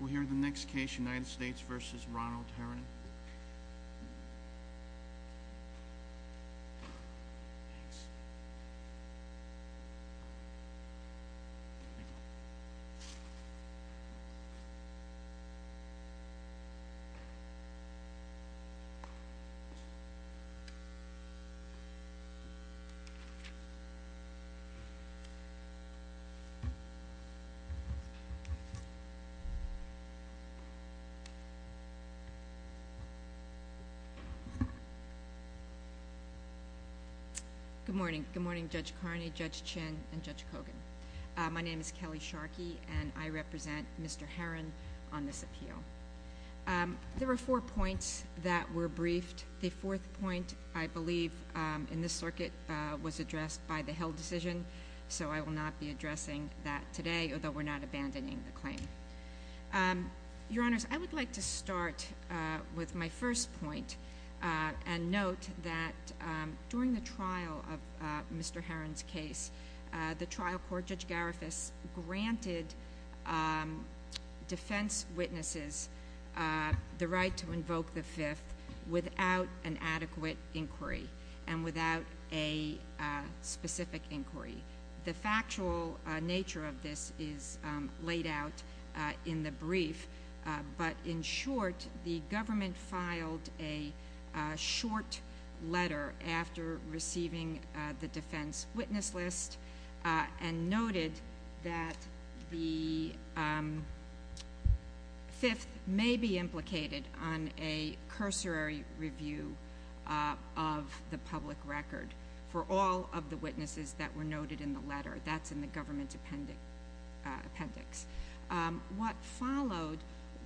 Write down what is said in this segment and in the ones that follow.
We'll hear the next case, United States v. Ronald Tarrant. Good morning. Good morning, Judge Carney, Judge Chinn, and Judge Kogan. My name is Kelly Sharkey, and I represent Mr. Herron on this appeal. There were four points that were briefed. The fourth point, I believe, in this circuit was addressed by the held decision, so I will not be addressing that today, although we're not abandoning the claim. Your Honors, I would like to start with my first point and note that during the trial of Mr. Herron's case, the trial court, Judge Garifas, granted defense witnesses the right to invoke the fifth without an adequate inquiry and without a specific inquiry. The factual nature of this is laid out in the brief, but in short, the government filed a short letter after receiving the defense of the public record for all of the witnesses that were noted in the letter. That's in the government appendix. What followed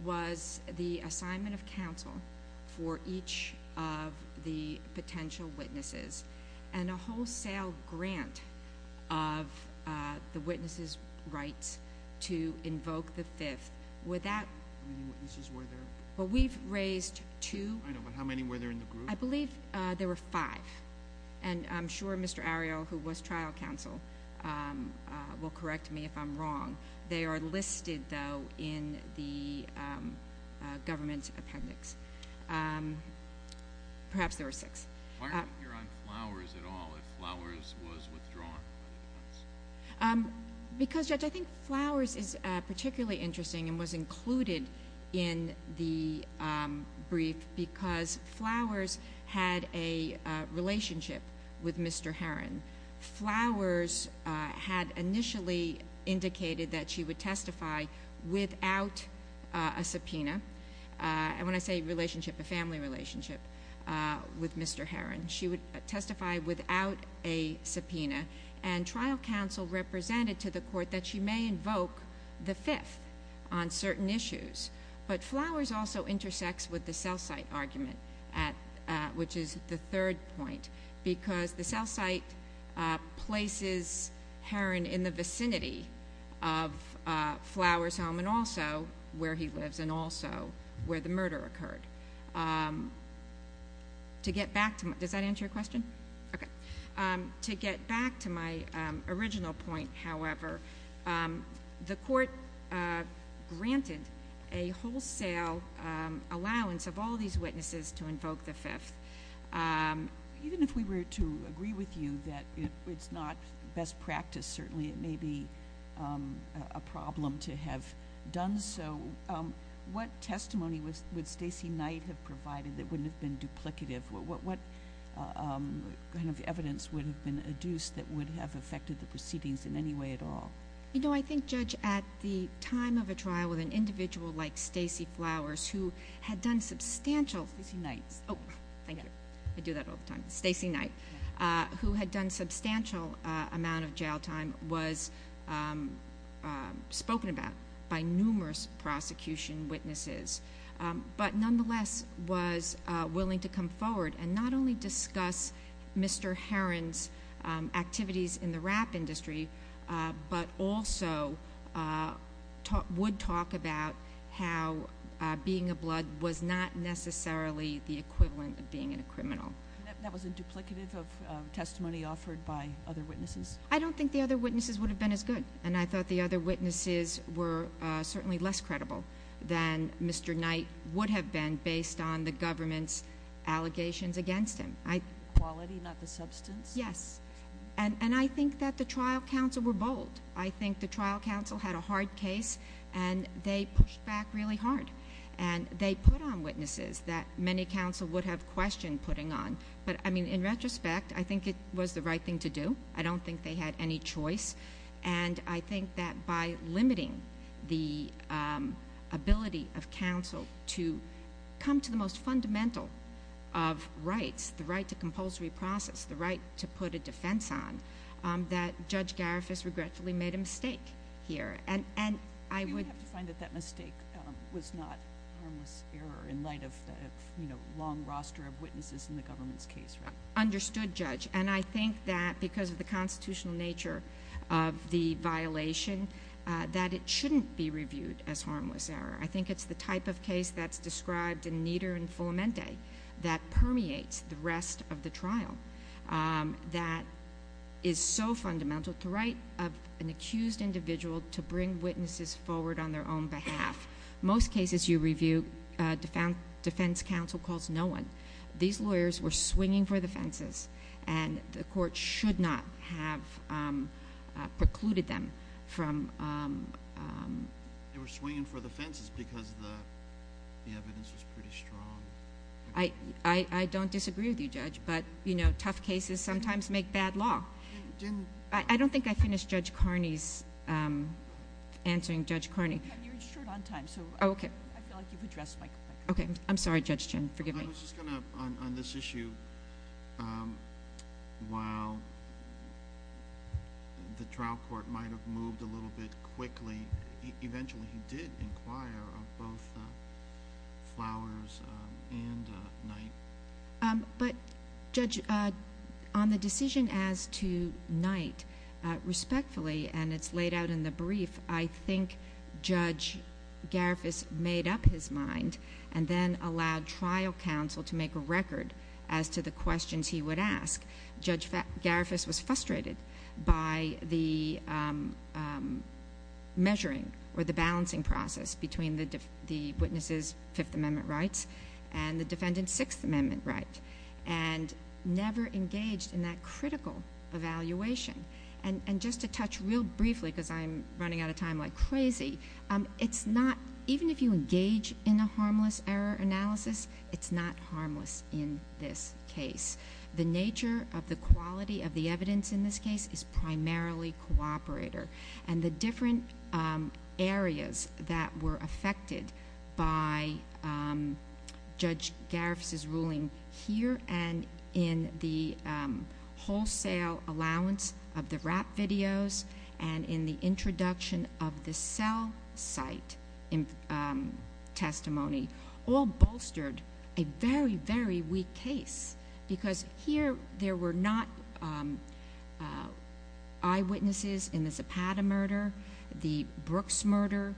was the assignment of counsel for each of the potential witnesses and a wholesale grant of the witnesses' rights to invoke the fifth without... How many were there in the group? I believe there were five, and I'm sure Mr. Arrio, who was trial counsel, will correct me if I'm wrong. They are listed, though, in the government appendix. Perhaps there were six. Why aren't we hearing on Flowers at all? If Flowers was withdrawn from the defense? Because, Judge, I think Flowers is particularly interesting and was included in the brief because Flowers had a relationship with Mr. Herron. Flowers had initially indicated that she would testify without a subpoena. When I say relationship, a family relationship with Mr. Herron, she would testify without a subpoena, and trial counsel represented to the court that she may invoke the fifth on certain issues. But Flowers also intersects with the cell site argument, which is the third point, because the cell site places Herron in the vicinity of Flowers' home and also where he lives and also where the murder occurred. To get back to my original point, however, the court granted a wholesale allowance of all these witnesses to invoke the fifth. Even if we were to agree with you that it's not best practice, certainly it may be a problem to have done so, what testimony would Stacey Knight have provided that wouldn't have been duplicative? What kind of evidence would have been adduced that would have affected the proceedings in any way at all? I think, Judge, at the time of a trial with an individual like Stacey Flowers, who had done substantial— Stacey Knight. Oh, thank you. I do that all the time. Stacey Knight, who had done a substantial amount of jail time, was spoken about by numerous prosecution witnesses, but nonetheless was willing to come forward and not only discuss Mr. Herron's activities in the rap industry, but also would talk about how being a blood was not necessarily the equivalent of being a criminal. That was a duplicative of testimony offered by other witnesses? I don't think the other witnesses would have been as good, and I thought the other witnesses were certainly less credible than Mr. Knight would have been based on the government's allegations against him. Quality, not the substance? Yes. And I think that the trial counsel were bold. I think the trial counsel had a hard case, and they pushed back really hard. And they put on witnesses that many counsel would have questioned putting on. But, I mean, in retrospect, I think it was the right thing to do. I don't think they had any choice. And I think that by limiting the ability of counsel to come to the most fundamental of rights, the right to compulsory process, the right to put a defense on, that Judge Garifas regretfully made a mistake here. You would have to find that that mistake was not harmless error in light of a long roster of witnesses in the government's case, right? Understood, Judge. And I think that because of the constitutional nature of the violation, that it shouldn't be reviewed as harmless error. I think it's the type of case that's described in Nieder and Fulamente that permeates the rest of the trial, that is so fundamental, the right of an accused individual to bring witnesses forward on their own behalf. Most cases you review, defense counsel calls no one. These lawyers were swinging for the fences. And the court should not have precluded them from— They were swinging for the fences because the evidence was pretty strong. I don't disagree with you, Judge. But, you know, tough cases sometimes make bad law. I don't think I finished Judge Carney's—answering Judge Carney. You're short on time, so I feel like you've addressed my question. Okay. I'm sorry, Judge Chin. Forgive me. I was just going to—on this issue, while the trial court might have moved a little bit quickly, eventually he did inquire of both Flowers and Knight. But, Judge, on the decision as to Knight, respectfully, and it's laid out in the brief, I think Judge Garifus made up his mind and then allowed trial counsel to make a record as to the questions he would ask. Judge Garifus was frustrated by the measuring or the balancing process between the witnesses' Fifth Amendment rights and the defendant's Sixth Amendment right, and never engaged in that critical evaluation. And just to touch real briefly, because I'm running out of time like crazy, it's not—even if you engage in a harmless error analysis, it's not harmless in this case. The nature of the quality of the evidence in this case is primarily cooperator. And the different areas that were affected by Judge Garifus' ruling here and in the wholesale allowance of the rap videos and in the introduction of the cell site testimony all bolstered a very, very weak case. Because here there were not eyewitnesses in the Zapata murder, the Brooks murder.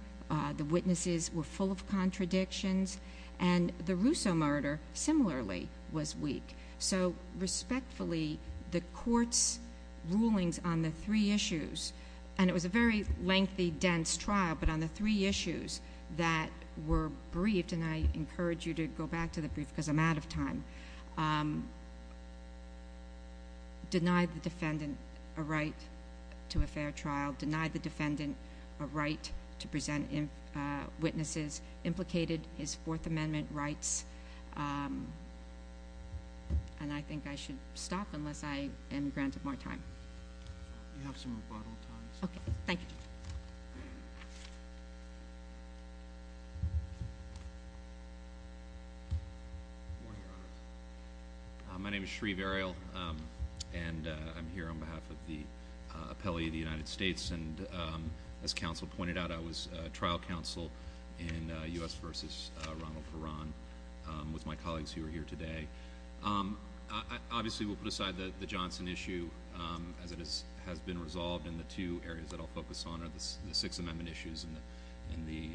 The witnesses were full of contradictions. And the Russo murder, similarly, was weak. So, respectfully, the Court's rulings on the three issues—and it was a very lengthy, dense trial—but on the three issues that were briefed—and I encourage you to go back to the brief, because I'm out of time—denied the defendant a right to a fair trial, denied the defendant a right to present witnesses, implicated his Fourth Amendment rights in the case, and I think I should stop unless I am granted more time. You have some rebuttal time, sir. Okay. Thank you. My name is Shreve Ariel, and I'm here on behalf of the appellee of the United States. And as counsel pointed out, I was trial counsel in U.S. v. Ronald Caron with my colleagues who are here today. Obviously, we'll put aside the Johnson issue, as it has been resolved, and the two areas that I'll focus on are the Sixth Amendment issues and the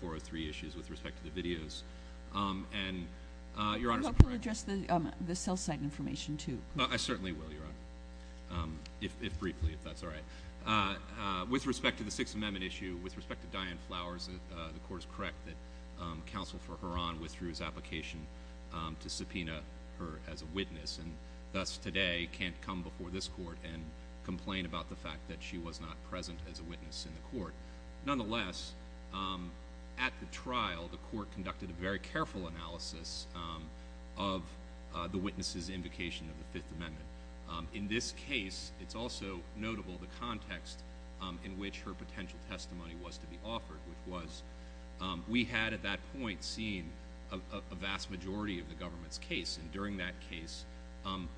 403 issues with respect to the videos. And Your Honor— I hope you'll address the cell site information, too. I certainly will, Your Honor, if briefly, if that's all right. With respect to the Sixth Amendment issue, with respect to Diane Flowers, the Court is to subpoena her as a witness, and thus, today, can't come before this Court and complain about the fact that she was not present as a witness in the Court. Nonetheless, at the trial, the Court conducted a very careful analysis of the witnesses' invocation of the Fifth Amendment. In this case, it's also notable the context in which her potential testimony was to be the vast majority of the government's case, and during that case,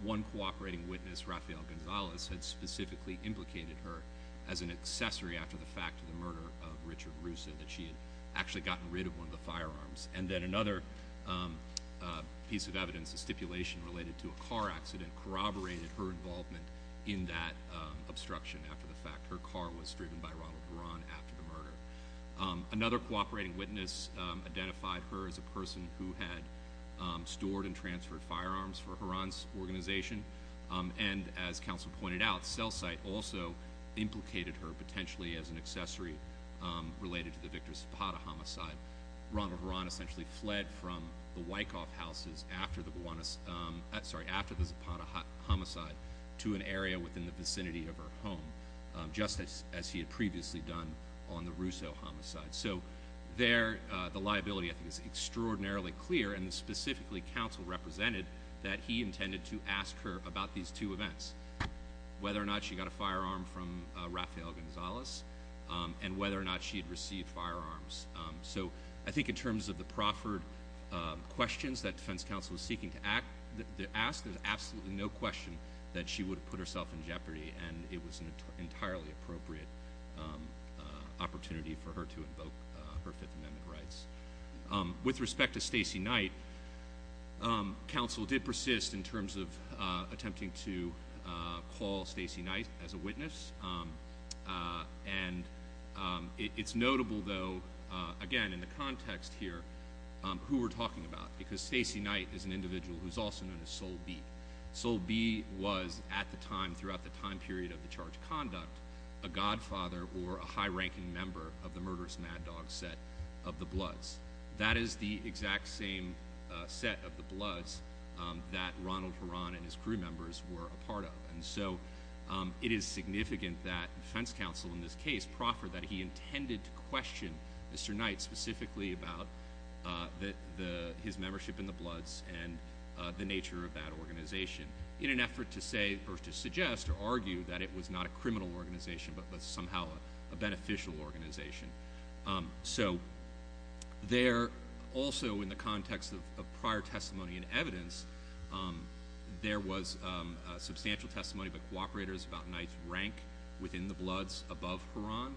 one cooperating witness, Rafael Gonzalez, had specifically implicated her as an accessory after the fact of the murder of Richard Russo, that she had actually gotten rid of one of the firearms. And then another piece of evidence, a stipulation related to a car accident, corroborated her involvement in that obstruction after the fact. Another cooperating witness identified her as a person who had stored and transferred firearms for Heron's organization, and as counsel pointed out, sell-cite also implicated her potentially as an accessory related to the Victor Zapata homicide. Ronald Heron essentially fled from the Wyckoff houses after the Zapata homicide to an area within the vicinity of her home, just as he had previously done on the Russo homicide. So there, the liability, I think, is extraordinarily clear, and specifically, counsel represented that he intended to ask her about these two events, whether or not she got a firearm from Rafael Gonzalez, and whether or not she had received firearms. So I think in terms of the proffered questions that defense counsel is seeking to ask, there's absolutely no question that she would have put herself in jeopardy, and it was an entirely appropriate opportunity for her to invoke her Fifth Amendment rights. With respect to Stacey Knight, counsel did persist in terms of attempting to call Stacey Knight as a witness. And it's notable, though, again, in the context here, who we're talking about, because Stacey Knight is an individual who's also known as Soul B. Soul B was, at the time, throughout the time period of the charged conduct, a godfather or a high-ranking member of the murderous mad dog set of the Bloods. That is the exact same set of the Bloods that Ronald Heron and his crew members were a part of. And so it is significant that defense counsel in this case proffered that he intended to the nature of that organization, in an effort to say or to suggest or argue that it was not a criminal organization, but was somehow a beneficial organization. So there also, in the context of prior testimony and evidence, there was substantial testimony by cooperators about Knight's rank within the Bloods above Heron.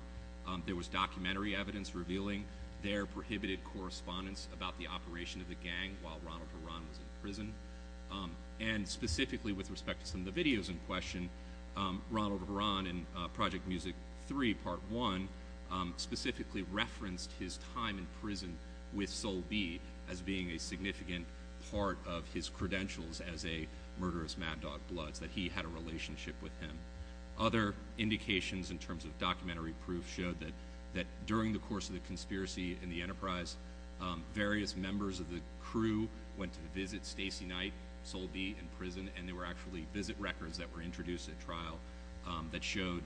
There was documentary evidence revealing their prohibited correspondence about the operation of the gang while Ronald Heron was in prison. And specifically with respect to some of the videos in question, Ronald Heron in Project Music 3, Part 1, specifically referenced his time in prison with Soul B as being a significant part of his credentials as a murderous mad dog Bloods, that he had a relationship with him. Other indications in terms of documentary proof showed that during the course of the trial, the crew went to visit Stacey Knight, Soul B, in prison, and there were actually visit records that were introduced at trial that showed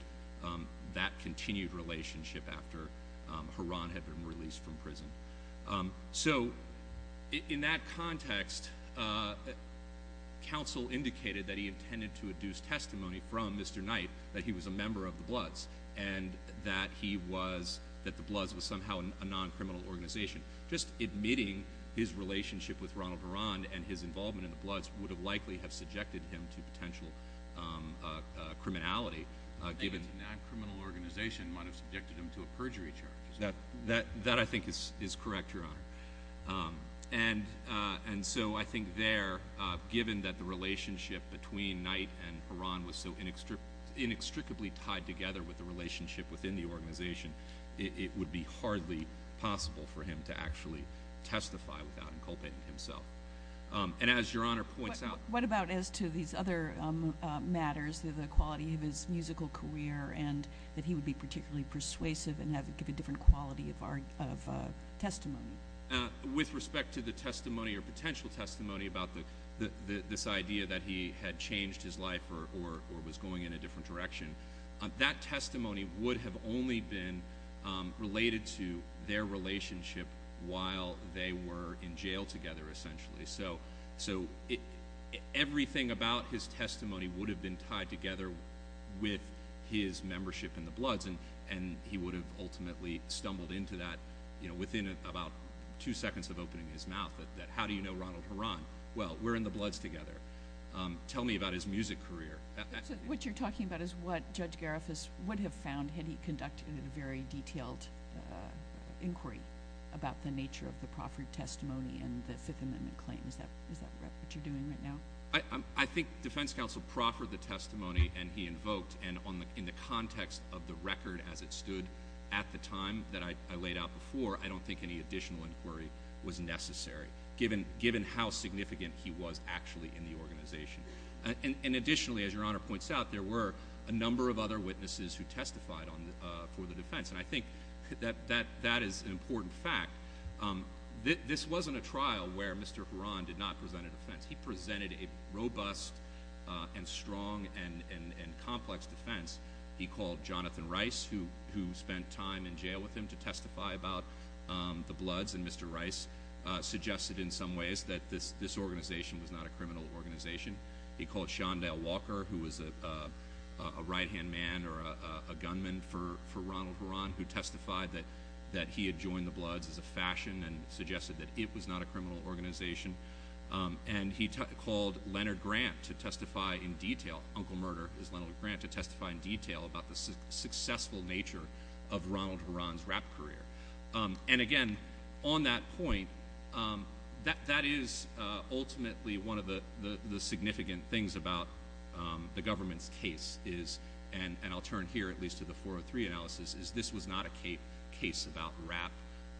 that continued relationship after Heron had been released from prison. So in that context, counsel indicated that he intended to adduce testimony from Mr. Knight that he was a member of the Bloods and that he was, that the Bloods was somehow a non-criminal organization. Just admitting his relationship with Ronald Heron and his involvement in the Bloods would have likely have subjected him to potential criminality, given- A non-criminal organization might have subjected him to a perjury charge. That I think is correct, Your Honor. And so I think there, given that the relationship between Knight and Heron was so inextricably tied together with the relationship within the organization, it would be hardly possible for him to actually testify without inculpating himself. And as Your Honor points out- What about as to these other matters, the quality of his musical career and that he would be particularly persuasive and have a different quality of testimony? With respect to the testimony or potential testimony about this idea that he had changed his life or was going in a different direction, that testimony would have only been related to their relationship while they were in jail together, essentially. So everything about his testimony would have been tied together with his membership in the Bloods, and he would have ultimately stumbled into that within about two seconds of opening his mouth. That how do you know Ronald Heron? Well, we're in the Bloods together. Tell me about his music career. What you're talking about is what Judge Gariffas would have found had he conducted a very detailed inquiry about the nature of the Crawford testimony and the Fifth Amendment claim. Is that what you're doing right now? I think Defense Counsel Crawford the testimony and he invoked, and in the context of the record as it stood at the time that I laid out before, I don't think any additional inquiry was necessary given how significant he was actually in the organization. And additionally, as Your Honor points out, there were a number of other witnesses who testified for the defense, and I think that is an important fact. This wasn't a trial where Mr. Heron did not present a defense. He presented a robust and strong and complex defense he called Jonathan Rice, who spent time in jail with him, to testify about the Bloods, and Mr. Rice suggested in some ways that this organization was not a criminal organization. He called Shondell Walker, who was a right-hand man or a gunman for Ronald Heron, who testified that he had joined the Bloods as a fashion and suggested that it was not a criminal organization. And he called Leonard Grant to testify in detail, Uncle Murder is Leonard Grant, to testify in detail of Ronald Heron's rap career. And again, on that point, that is ultimately one of the significant things about the government's case is, and I'll turn here at least to the 403 analysis, is this was not a case about rap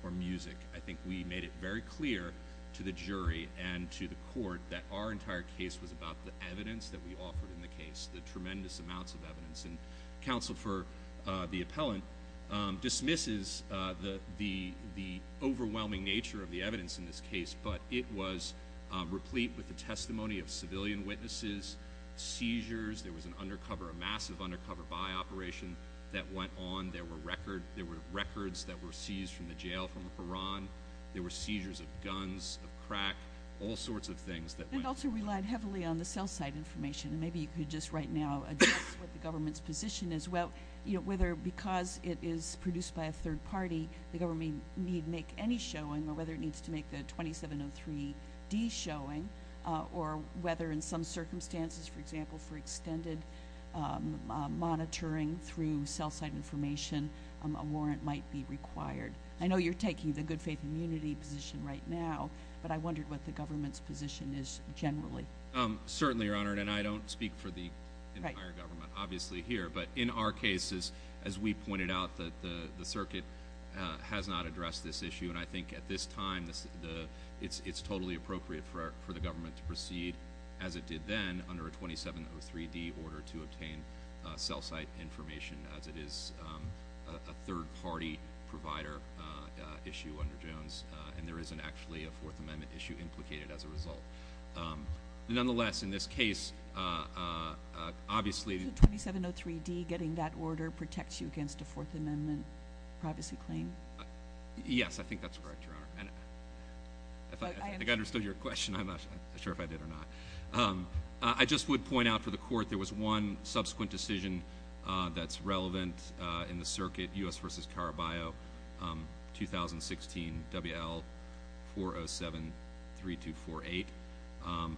or music. I think we made it very clear to the jury and to the court that our entire case was about the evidence that we offered in the case, the tremendous amounts of evidence. And counsel for the appellant dismisses the overwhelming nature of the evidence in this case, but it was replete with the testimony of civilian witnesses, seizures, there was an undercover, a massive undercover buy operation that went on, there were records that were seized from the jail from Heron, there were seizures of guns, of crack, all sorts of things that went on. And also relied heavily on the cell site information. And maybe you could just right now address what the government's position is, whether because it is produced by a third party, the government need make any showing, or whether it needs to make the 2703D showing, or whether in some circumstances, for example, for extended monitoring through cell site information, a warrant might be required. I know you're taking the good faith and unity position right now, but I wondered what the government's position is generally. Certainly, Your Honor, and I don't speak for the entire government, obviously here, but in our case, as we pointed out, the circuit has not addressed this issue, and I think at this time, it's totally appropriate for the government to proceed as it did then, under a 2703D order to obtain cell site information, as it is a third party provider issue under Nonetheless, in this case, obviously... So 2703D, getting that order, protects you against a Fourth Amendment privacy claim? Yes, I think that's correct, Your Honor. If I understood your question, I'm not sure if I did or not. I just would point out for the court, there was one subsequent decision that's relevant in the circuit, U.S. v. Caraballo, 2016, W.L. 407-3248,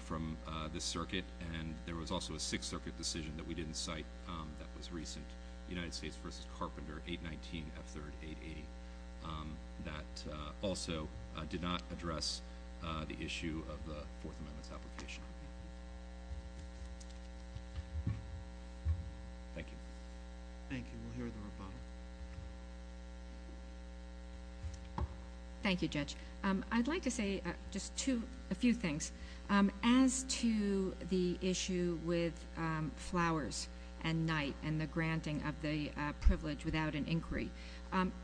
from the circuit, and there was also a Sixth Circuit decision that we didn't cite that was recent, United States v. Carpenter, 819F3-880. That also did not address the issue of the Fourth Amendment's application. Thank you. Thank you. We'll hear the rebuttal. Thank you, Judge. I'd like to say just a few things. As to the issue with flowers and night and the granting of the privilege without an inquiry,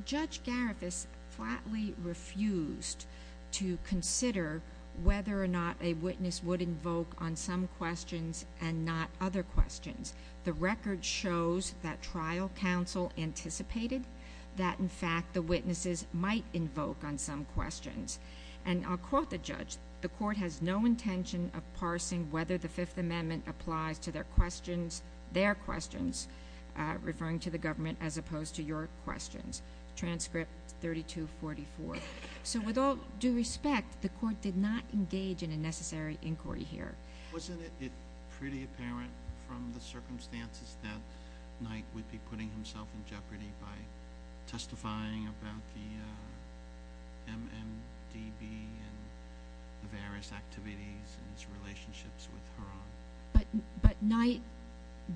Judge Garifuss flatly refused to consider whether or not a witness would invoke on some questions and not other questions. The record shows that trial counsel anticipated that, in fact, the witnesses might invoke on some questions. And I'll quote the judge, the court has no intention of parsing whether the Fifth Amendment applies to their questions, referring to the government as opposed to your questions. Transcript 3244. So with all due respect, the court did not engage in a necessary inquiry here. Wasn't it pretty apparent from the circumstances that Knight would be putting himself in jeopardy by testifying about the MMDB and the various activities and his relationships with Huron? But Knight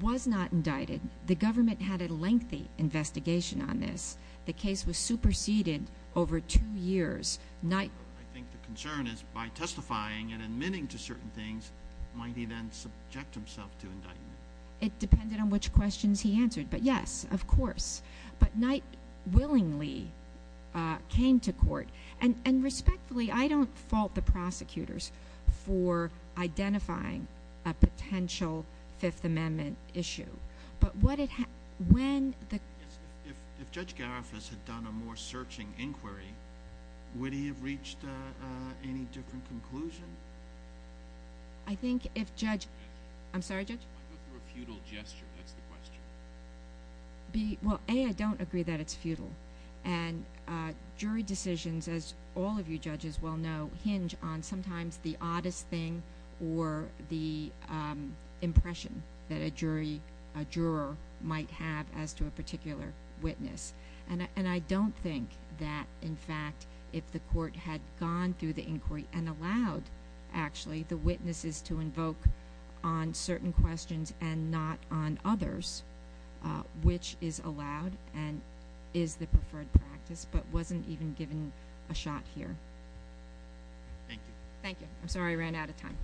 was not indicted. The government had a lengthy investigation on this. The case was superseded over two years. I think the concern is by testifying and admitting to certain things, might he then subject himself to indictment? It depended on which questions he answered. But, yes, of course. But Knight willingly came to court. And respectfully, I don't fault the prosecutors for identifying a potential Fifth Amendment issue. If Judge Garifas had done a more searching inquiry, would he have reached any different conclusion? I think if Judge – I'm sorry, Judge? I go through a futile gesture. That's the question. Well, A, I don't agree that it's futile. And jury decisions, as all of you judges well know, hinge on sometimes the oddest thing or the impression that a jury, a juror, might have as to a particular witness. And I don't think that, in fact, if the court had gone through the inquiry and allowed, actually, the witnesses to invoke on certain questions and not on others, which is allowed and is the preferred practice, but wasn't even given a shot here. Thank you. Thank you. I'm sorry I ran out of time.